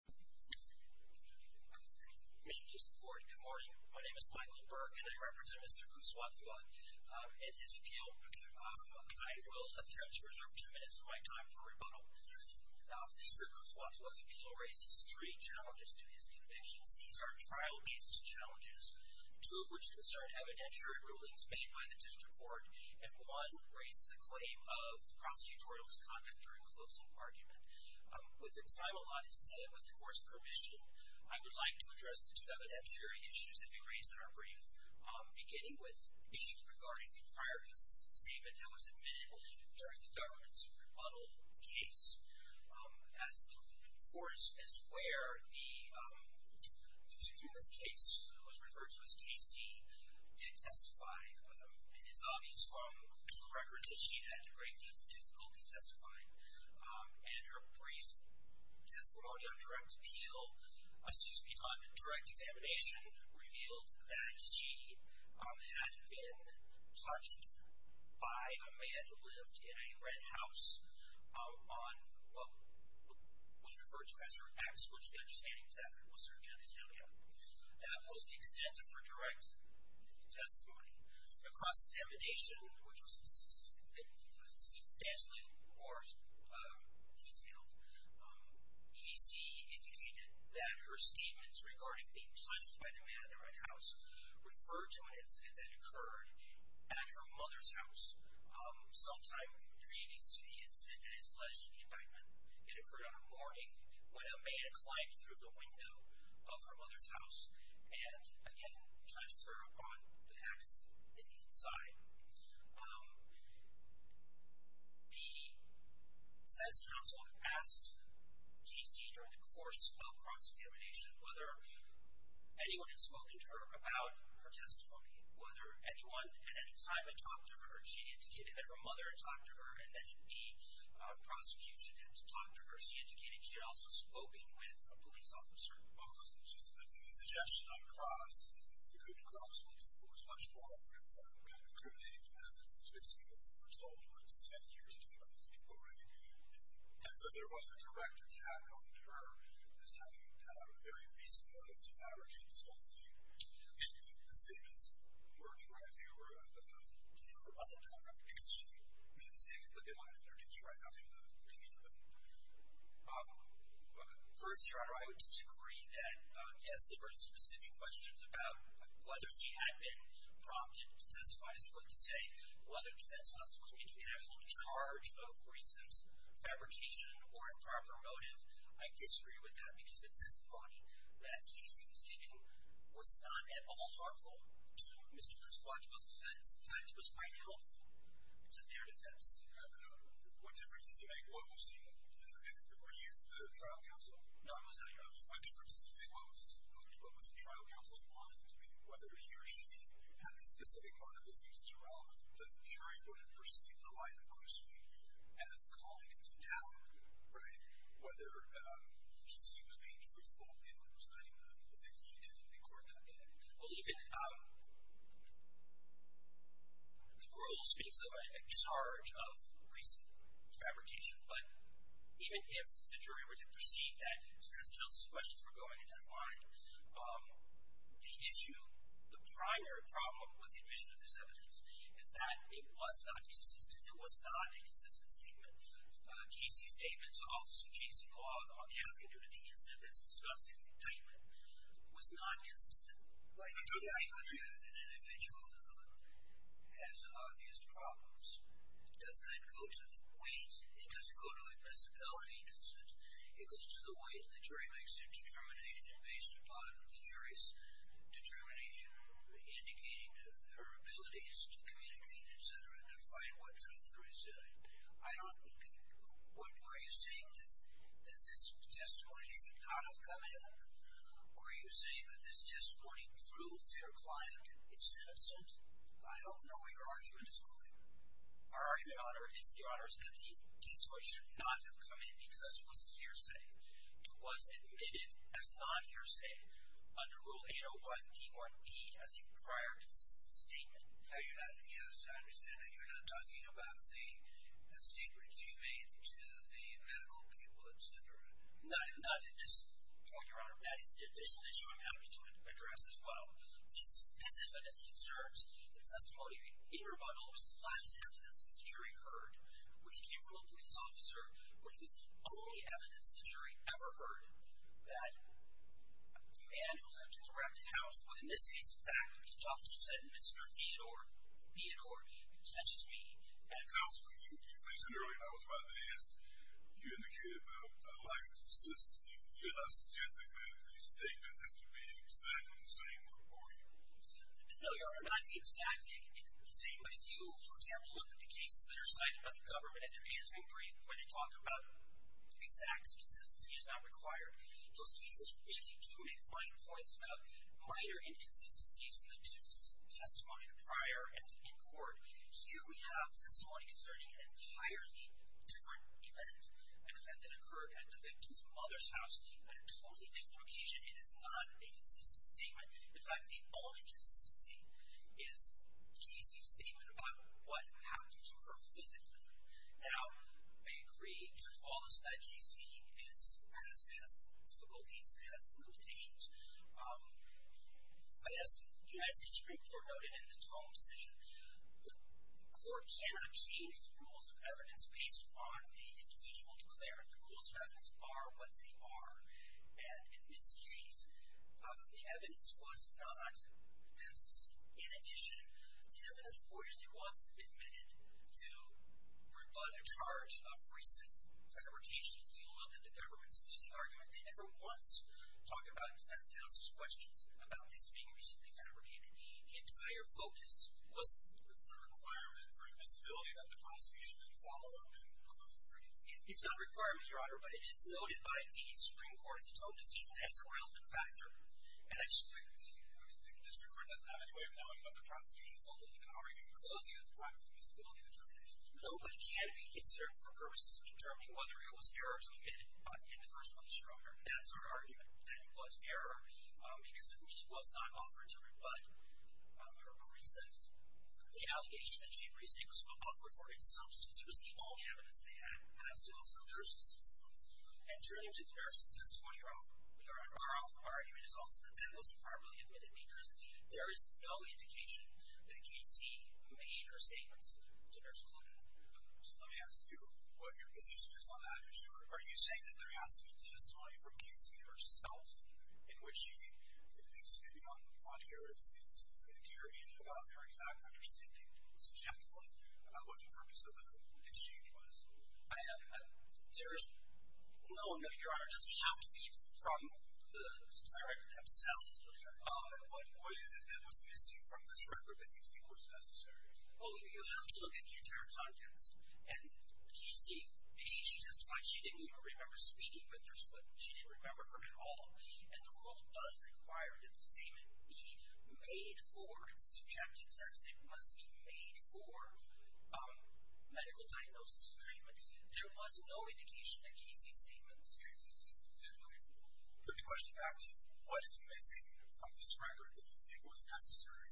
Good morning. My name is Michael Burke and I represent Mr. Kootswatewa and his appeal. I will attempt to reserve two minutes of my time for rebuttal. Mr. Kootswatewa's appeal raises three challenges to his convictions. These are trial-based challenges, two of which concern evidentiary rulings made by the district court and one raises a claim of prosecutorial misconduct during closing argument. With the time allotted and with the court's permission, I would like to address the two evidentiary issues that we raised in our brief, beginning with the issue regarding the prior consistent statement that was admitted during the government's rebuttal case. As the court, as where the defendant in this case was referred to as difficultly testifying and her brief testimony on direct appeal, excuse me, on direct examination revealed that she had been touched by a man who lived in a red house on what was referred to as her ex, which the understanding is that was her genitalia. That was the extent of her direct testimony. Across examination, which was substantially more detailed, PC indicated that her statements regarding being touched by the man in the red house referred to an incident that occurred at her mother's house sometime pre-existing to the incident that is alleged indictment. It occurred on a morning when a man climbed through the window of her mother's house and again touched her on the ex in the inside. The defense counsel had asked PC during the course of cross-examination whether anyone had spoken to her about her testimony, whether anyone at any time had talked to her. She indicated that her mother had talked to her and that the prosecution had talked to her. She indicated she had also spoken with a police officer. Well, this is just a suggestion on cross-examination, which was obviously much more kind of crude and it's people who are told what to say and you're told by these people what you need to do. And so there was a direct attack on her as having had a very reasonable motive to fabricate this whole thing. Indeed, the statements were true, right? They were all true. I don't know if she made a mistake, but they might have introduced her right after the thing happened. First, Your Honor, I would disagree that, yes, there were specific questions about whether she had been prompted to testify as to what to say, whether the defense counsel had been in actual charge of recent fabrication or improper motive. I disagree with that because the testimony that PC was giving was not at all harmful to Mr. Cruz. What was in fact was quite helpful to their defense. What difference does it make what was in the trial counsel's mind? I mean, whether he or she had a specific motive that seems as irrelevant, the jury would have perceived the line of questioning as calling into doubt, right, whether she seems to be truthful in presenting the things that she did in court that day. I don't believe it. The rule speaks of a charge of recent fabrication, but even if the jury would have perceived that Mr. Cruz's counsel's questions were going into that line, the issue, the prior problem with the admission of this evidence is that it was not consistent. It was not a consistent statement. Casey's statement, so also suit Casey Law, the archivist of the incident, this disgusting statement was not consistent. I agree with you. An individual has obvious problems. Doesn't that go to the point? It doesn't go to a possibility, does it? It goes to the way the jury makes their determination based upon the jury's determination indicating her abilities to communicate, et cetera, to the jury. I don't understand what truth there is in it. Are you saying that this testimony is not a comment? Or are you saying that this testimony proves your client is innocent? I don't know where your argument is going. Our argument, Your Honor, is that the case should not have come in because it wasn't hearsay. It was admitted as non-hearsay under Rule 801, D1E, as a prior consistent statement. Yes, I understand that you're not talking about the statements you made to the medical people, et cetera. Not at this point, Your Honor. That is an additional issue I'm happy to address as well. This evidence concerns the testimony in rebuttal. It was the last evidence that the jury heard, which came from a police officer, which was the only evidence the jury ever heard that a man who lived in a rented house would, in this case, in fact, the police officer said, Mr. Theodore, Theodore, that's just me. Now, Your Honor, you mentioned earlier, I was about to ask, you indicated about a lack of consistency. You're not suggesting that these statements have to be exact on the same report? No, Your Honor, not exactly the same. But if you, for example, look at the cases that are cited by the government at their annual brief where they talk about exact consistency is not required, those cases really do make fine points about minor inconsistencies in the testimony prior and in court. Here we have testimony concerning an entirely different event, an event that occurred at the victim's mother's house at a totally different location. It is not a consistent statement. In fact, the only consistency is Casey's statement about what happened to her physically. Now, I agree, Judge Wallace, that Casey has difficulties and has limitations. As the United States Supreme Court noted in its own decision, the court cannot change the rules of evidence based on the individual declarant. The rules of evidence are what they are. And in this case, the evidence was not consistent. In addition, the evidence reportedly wasn't admitted to rebut a charge of recent fabrications. You look at the government's losing argument. They never once talk about it in the defense counsel's questions about this being recently fabricated. The entire focus wasn't. It's not a requirement for invisibility that the prosecution can follow up and close the hearing? It's not a requirement, Your Honor, but it is noted by the Supreme Court in its own decision as a relevant factor. And actually, the district court doesn't have any way of knowing about the prosecution's inability to close the hearing at the time of the invisibility determination. No, but it can be considered for purposes of determining whether it was error to admit it in the first place. Your Honor, that's our argument, that it was error because it really was not offered to rebut a recent, the allegation that she recently was offered for insubstance. It was the only evidence they had as to the substance. And turning to the nurse's testimony, Your Honor, our argument is also that that wasn't properly admitted because there is no indication that Casey made her statements to nurse Clonin. So let me ask you what your position is on that issue. Are you saying that there has to be testimony from Casey herself in which she, at least maybe on her end, about her exact understanding subjectively about what the purpose of the exchange was? No, no, Your Honor. It doesn't have to be from the director himself. Okay. And what is it that was missing from this record that you think was necessary? Well, you have to look at the entire contents. And Casey, maybe she just thought she didn't even remember speaking with nurse Clonin. She didn't remember her at all. And the rule does require that the statement be made for its subjective text. It must be made for medical diagnosis and treatment. There was no indication that Casey's statements existed. Let me put the question back to you. What is missing from this record that you think was necessary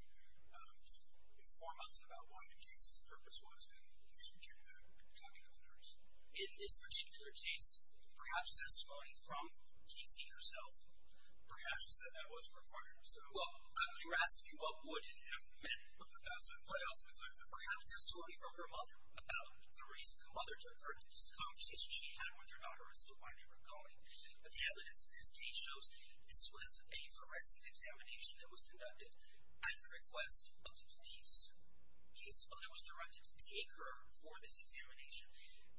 to inform us about what Casey's purpose was in extracurricular talking to a nurse? In this particular case, perhaps testimony from Casey herself. Perhaps she said that wasn't required. Well, I'm asking you what would have been. What else was there? Well, you just told me from her mother about the reason her mother took her into this conversation she had with her daughter as to why they were going. But the evidence in this case shows this was a forensic examination that was conducted at the request of the police. Casey's mother was directed to take her for this examination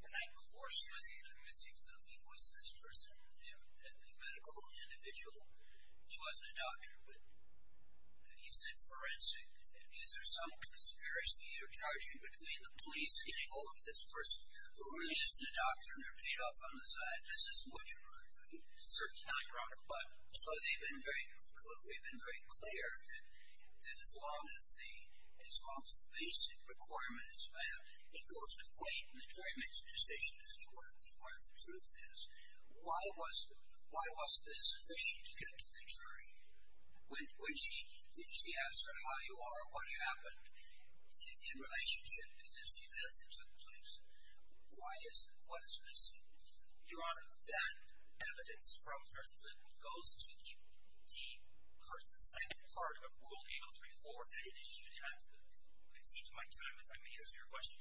the night before. She was either missing something with this person, a medical individual. She wasn't a doctor. But you said forensic. Is there some conspiracy or charging between the police getting hold of this person who really isn't a doctor and they're paid off on the side? This is much more certain. So they've been very clear that as long as the basic requirement is met, it goes to wait and the jury makes a decision as to where the truth is. Why was this sufficient to get to the jury? Did she ask her how you are, what happened in relationship to this event that took place? Why isn't, what is missing? Your Honor, that evidence from Justice Clinton goes to the second part of Rule 803-4 that it issued after the, it seems my time if I may answer your question,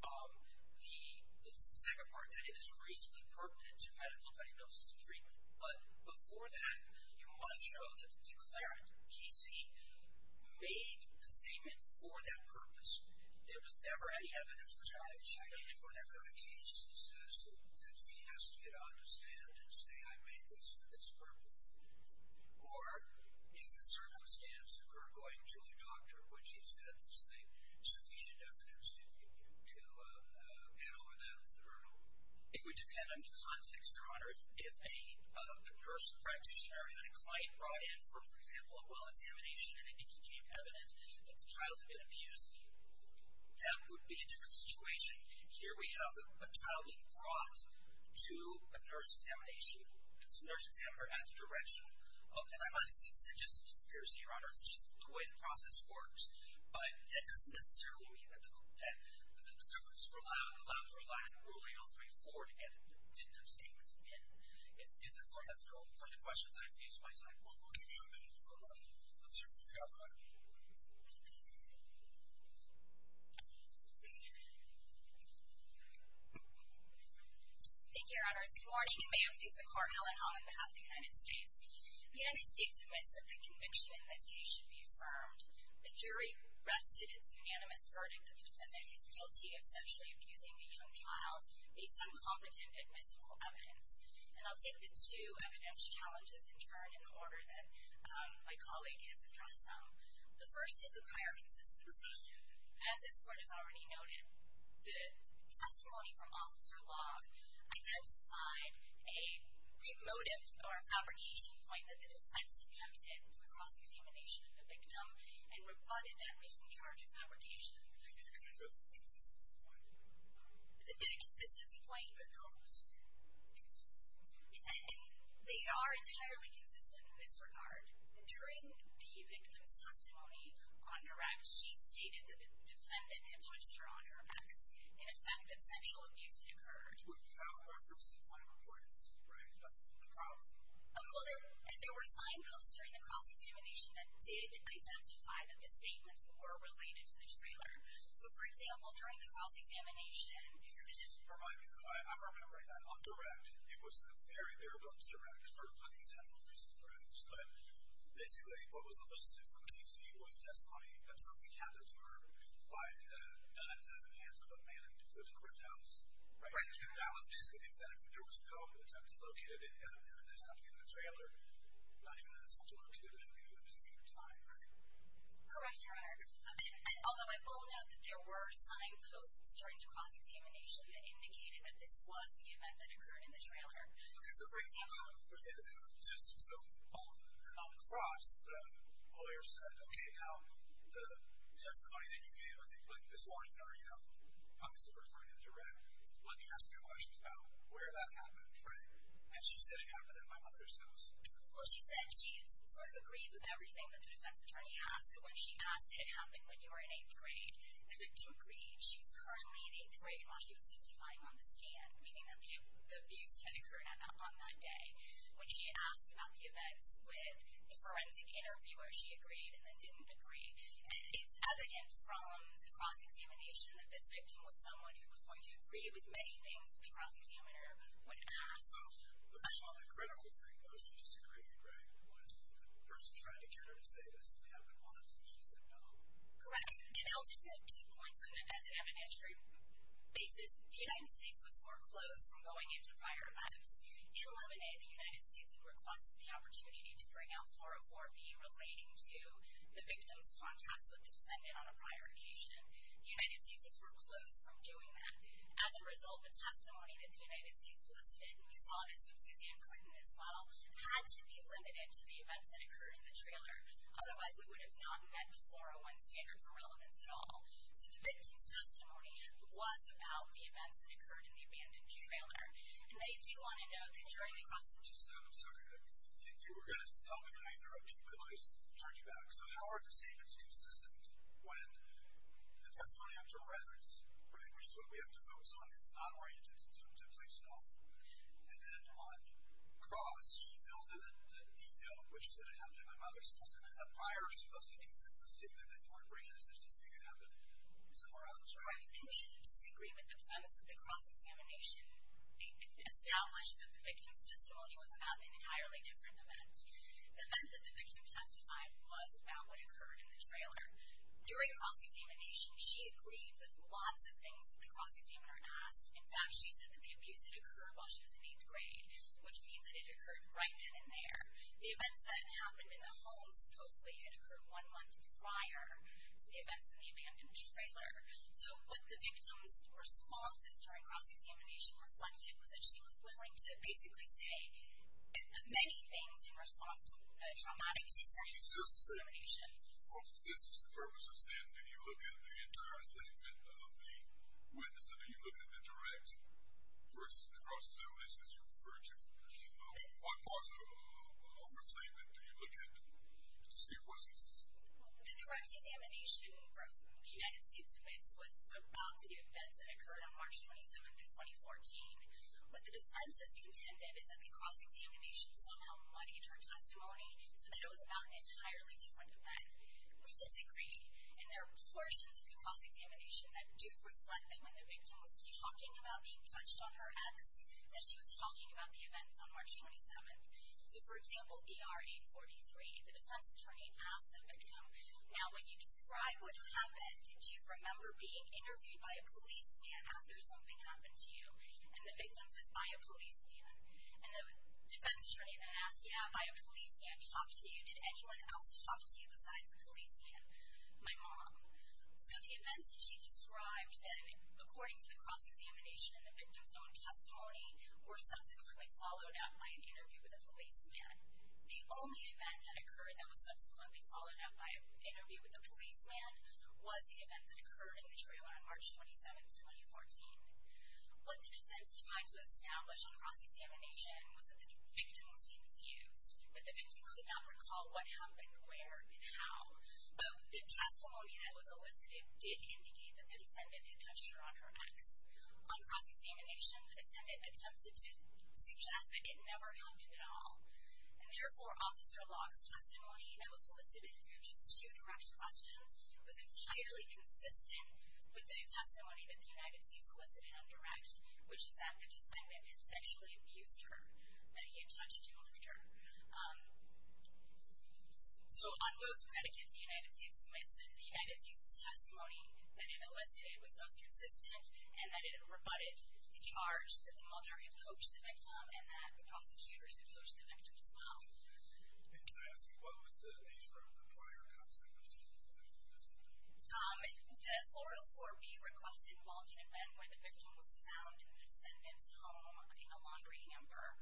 the second part that it is reasonably pertinent to medical diagnosis and treatment. But before that, you must show that the declarant, Casey, made a statement for that purpose. There was never any evidence, which I have checked, and there were never any cases that she asked you to understand and say I made this for this purpose. Or is the circumstance of her going to a doctor when she said there's sufficient evidence to get over that hurdle? It would depend on the context, Your Honor. If a nurse practitioner had a client brought in for, for example, a well examination and it became evident that the child had been abused, that would be a different situation. Here we have a child being brought to a nurse examination. It's a nurse examiner at the direction of, and I must insist that just the process works, but that doesn't necessarily mean that the, that the deliverers were allowed, allowed to rely on Rule 803-4 to get definitive statements in the end. If, if the Court has no further questions, I face my time. Well, we'll give you a minute for a moment. I'm sure you'll be all right. Thank you, Your Honors. Good morning, and may it please the Court, Helen Holland on behalf of the United States. The United States admits that the conviction in this case should be confirmed. The jury rested its unanimous verdict that the defendant is guilty of sexually abusing a young child based on competent, admissible evidence. And I'll take the two evidence challenges in turn in the order that my colleague has addressed them. The first is a prior consistency. As this Court has already noted, the testimony from Officer Locke identified a motive or a fabrication point that the defense attempted through a process of humiliation of the victim and rebutted that misanthropy fabrication. And then there's the consistency point. The consistency point? No, the consistency point. And they are entirely consistent in this regard. During the victim's testimony on the rack, she stated that the defendant had touched her on her back in effect that sexual abuse had occurred. Without reference to time or place, right? That's the problem. And there were signposts during the cross-examination that did identify that the statements were related to the trailer. So, for example, during the cross-examination... Just to remind you, I'm not going to write that on the rack. It was in the very, very close to the rack for unexampled reasons perhaps. But basically, what was elicited from the PC was testimony that something happened to her by the hands of a man in the courthouse. Right. That was basically the incentive. There was no attempt to locate it in evidence that happened in the trailer. Not even an attempt to locate it in evidence, meaning time, right? Correct, Your Honor. Although I will note that there were signposts during the cross-examination that indicated that this was the event that occurred in the trailer. Okay. So, for example, on the cross, the lawyer said, okay, now the testimony that you gave, this one, you know, obviously referring to the rack, let me ask you a question about where that happened, right? And she said, it happened at my mother's house. Well, she said she sort of agreed with everything that the defense attorney asked. So, when she asked, did it happen when you were in eighth grade? They didn't agree. She was currently in eighth grade while she was testifying on the stand, meaning the abuse had occurred on that day. When she asked about the events with the forensic interviewer, she agreed and then didn't agree. And it's evident from the cross-examination that this victim was someone who was going to agree with many things that the cross-examiner would ask. Well, but that's not the critical thing, though. She just agreed, right? When the person tried to get her to say, does it happen once? And she said no. Correct. And I'll just add two points on an evidentiary basis. The United States was more closed from going into prior lives. In 11A, the United States had requested the opportunity to bring out 404B relating to the victim's contacts with the defendant on a prior occasion. The United States was more closed from doing that. As a result, the testimony that the United States listed, and we saw this with Suzanne Clinton as well, had to be limited to the events that occurred in the trailer. Otherwise, we would have not met the 401 standard for relevance at all. So, the victim's testimony was about the events that occurred in the abandoned trailer. And they do want to know that during the cross-examination... Suzanne, I'm sorry. You were going to tell me, and I interrupted you, but let me turn you back. So, how are the statements consistent when the testimony after arrest, right, which is what we have to focus on, is not oriented to temptation at all? And then on cross, she fills in the detail, which is, did it happen at my mother's house, or did it happen prior? She doesn't make a consistent statement. If anyone brings this, does she say it happened somewhere else? I completely disagree with the premise of the cross-examination. It established that the victim's testimony was about an entirely different event. The event that the victim testified was about what occurred in the trailer. During cross-examination, she agreed with lots of things that the cross-examiner had asked. In fact, she said that the abuse had occurred while she was in eighth grade, which means that it occurred right then and there. The events that happened in the home supposedly had occurred one month prior to the events in the abandoned trailer. So, what the victim's responses during cross-examination responded was that she was willing to basically say many things in response to a traumatic discrimination. For consistency purposes, then, do you look at the entire statement of the witness, or do you look at the direct versus the cross-examination, as you referred to? What part of her statement do you look at to see if what's consistent? The direct examination, the United States admits, was about the events that occurred on March 27th of 2014. What the defense has contended is that the cross-examination somehow muddied her testimony so that it was about an entirely different event. We disagree, and there are portions of the cross-examination that do reflect that when the victim was talking about being touched on her ex, that she was talking about the events on March 27th. So, for example, ER 843, the defense attorney asked the victim, now when you describe what happened, did you remember being interviewed by a policeman after something happened to you? And the victim says, by a policeman. And the defense attorney then asks, yeah, by a policeman. Talked to you? Did anyone else talk to you besides the policeman? My mom. So, the events that she described, then, according to the cross-examination and the victim's own testimony, were subsequently followed up by an interview with a policeman. The only event that occurred that was subsequently followed up by an interview with a policeman was the event that occurred in the trailer on March 27th, 2014. What the defense tried to establish on cross-examination was that the victim was confused, that the victim could not recall what happened, where, and how. But the testimony that was elicited did indicate that the defendant had touched her on her ex. On cross-examination, the defendant attempted to suggest that it never helped at all. And, therefore, Officer Locke's testimony that was elicited through just two direct questions was entirely consistent with the testimony that the United States elicited on direct, which is that the defendant had sexually abused her, that he had touched her. So, on both medicates, the United States elicited the United States' testimony that it elicited was both consistent and that it rebutted the charge that the mother had coached the victim and that the prosecutors had coached the victim as well. And can I ask you, what was the nature of the prior contact with the defendant? The 404B requested Walter and Ben, where the victim was found in the defendant's home, in a laundry hamper,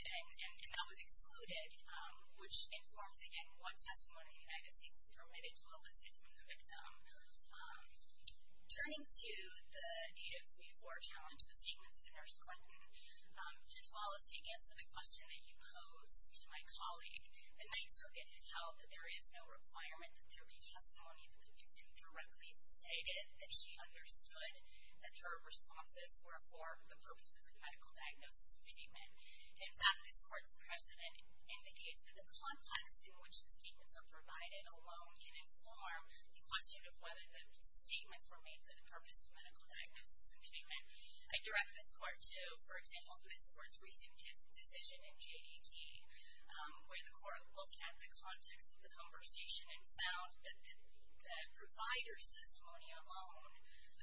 and that was excluded, which informs, again, what testimony the United States permitted to elicit from the victim. Turning to the 8034 challenge that sequence to Nurse Clinton, Judge Wallace, to answer the question that you posed to my colleague, the Ninth Circuit held that there is no requirement that there be testimony that the victim directly stated that she understood that her responses were for the purposes of medical diagnosis and treatment. In fact, this Court's precedent indicates that the context in which the statements are provided alone can inform the question of whether the statements were made for the purpose of medical diagnosis and treatment. I direct this Court to, for example, this Court's recent decision in J.E.T., where the Court looked at the context of the conversation and found that the provider's testimony alone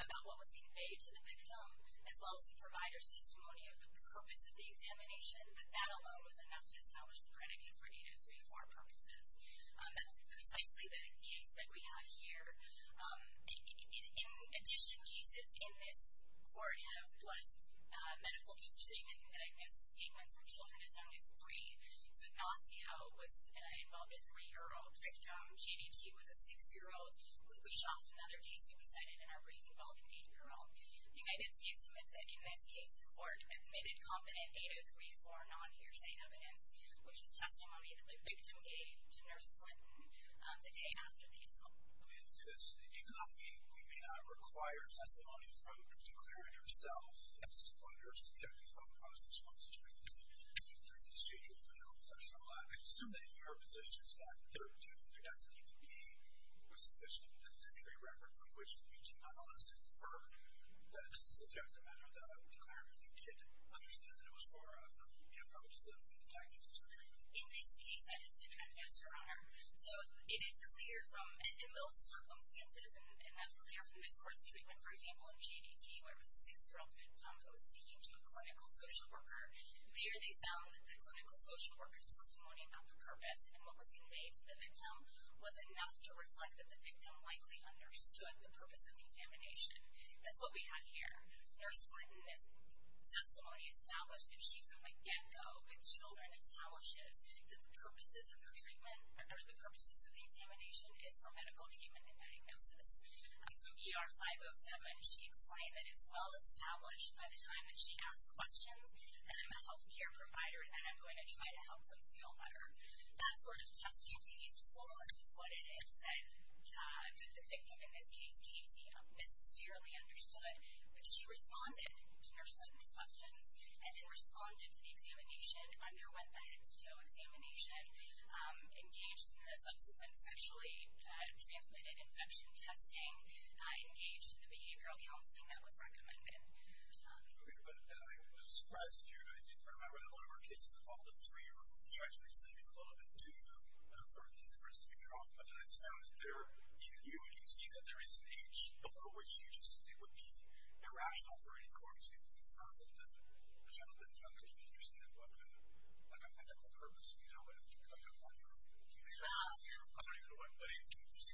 about what was conveyed to the victim, as well as the provider's testimony of the purpose of the examination, that that alone was enough to establish the predicate for 8034 purposes. That's precisely the case that we have here. In addition, cases in this Court have blessed medical treatment and diagnosis statements from children as young as three. So, Ignacio was involved as a three-year-old victim. J.D.T. was a six-year-old. Lukashoff, another case he was cited, and Arbrink involved an eight-year-old. The United States admits that in this case, the Court admitted confident 8034 non-hearsay evidence, which is testimony that the victim gave to Nurse Clinton the day after the assault. Let me say this. Even though we may not require testimony from the declarer herself, in the absence of any other subjective thought process, one such witness may need to be interviewed during this stage of the panel session. I assume that your position is that there doesn't need to be a sufficient documentary record from which you can nonetheless infer that it's a subjective matter that I would declare that you did understand that it was for purposes of medical diagnosis or treatment. In this case, that has been added as her honor. So, it is clear from, in those circumstances, and that's clear from this Court's treatment, for example, in GDT, where it was a six-year-old victim who was speaking to a clinical social worker. There, they found that the clinical social worker's testimony about the purpose and what was conveyed to the victim was enough to reflect that the victim likely understood the purpose of the infamination. That's what we have here. Nurse Clinton's testimony established that she, from the get-go, with children, establishes that the purposes of the infamination is for medical treatment and diagnosis. From ER 507, she explained that it's well-established by the time that she asks questions that I'm a health care provider and I'm going to try to help them feel better. That sort of test you need for is what it is that the victim, in this case, Casey, necessarily understood, but she responded to Nurse Clinton's questions and then responded to the examination, underwent the head-to-toe examination, engaged in the subsequent sexually transmitted infection testing, engaged in the behavioral counseling that was recommended. I was surprised to hear that. I did remember that one of our cases involved a three-year-old who was actually sleeping a little bit too young for the inference to be wrong, but then it sounded there, even you, you can see that there is an age below which it would be irrational for any court to infer that the child had been young if they didn't understand what the medical purpose would have to be.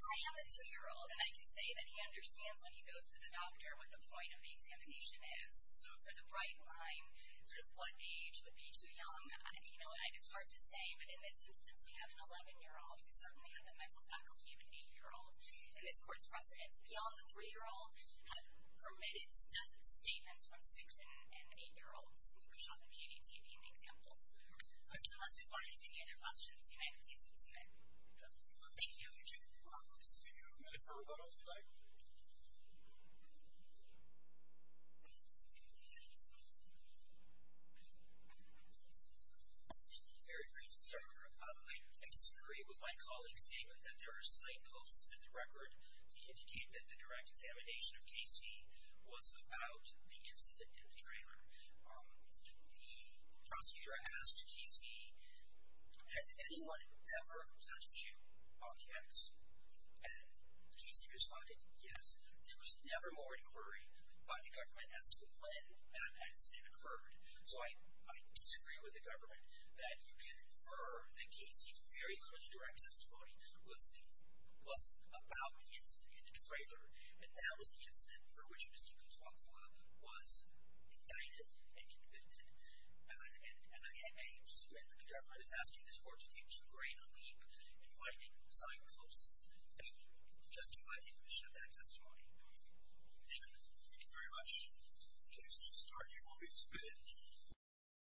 I have a two-year-old, and I can say that he understands when he goes to the doctor what the point of the examination is. So for the right line, sort of what age would be too young, I don't know, and it's hard to say, but in this instance we have an 11-year-old. We certainly have a mental faculty of an eight-year-old. In this court's precedence, beyond the three-year-old, we have permitted dozens of statements from six- and eight-year-olds who could shot the QDTP in the example. Unless there are any other questions, United States, you may. Thank you. Thank you. We do have a question. We do have a minute for rebuttal, if you'd like. Very briefly, Dr. Rappaport. I disagree with my colleague's statement that there are slight causes in the record to indicate that the direct examination of K.C. was about the incident in the trailer. The prosecutor asked K.C., has anyone ever touched you on the X? And K.C. responded, yes. There was never more inquiry by the government as to when that accident occurred. So I disagree with the government that you can infer that K.C.'s very little direct testimony was about the incident in the trailer, and that was the incident for which Mr. Kuswatoa was indicted and convicted. And I am suing the government. I'm asking this court to take a greater leap in finding signposts. Thank you. Just do my take and show that testimony. Thank you. Thank you very much. The case is now started and will be submitted.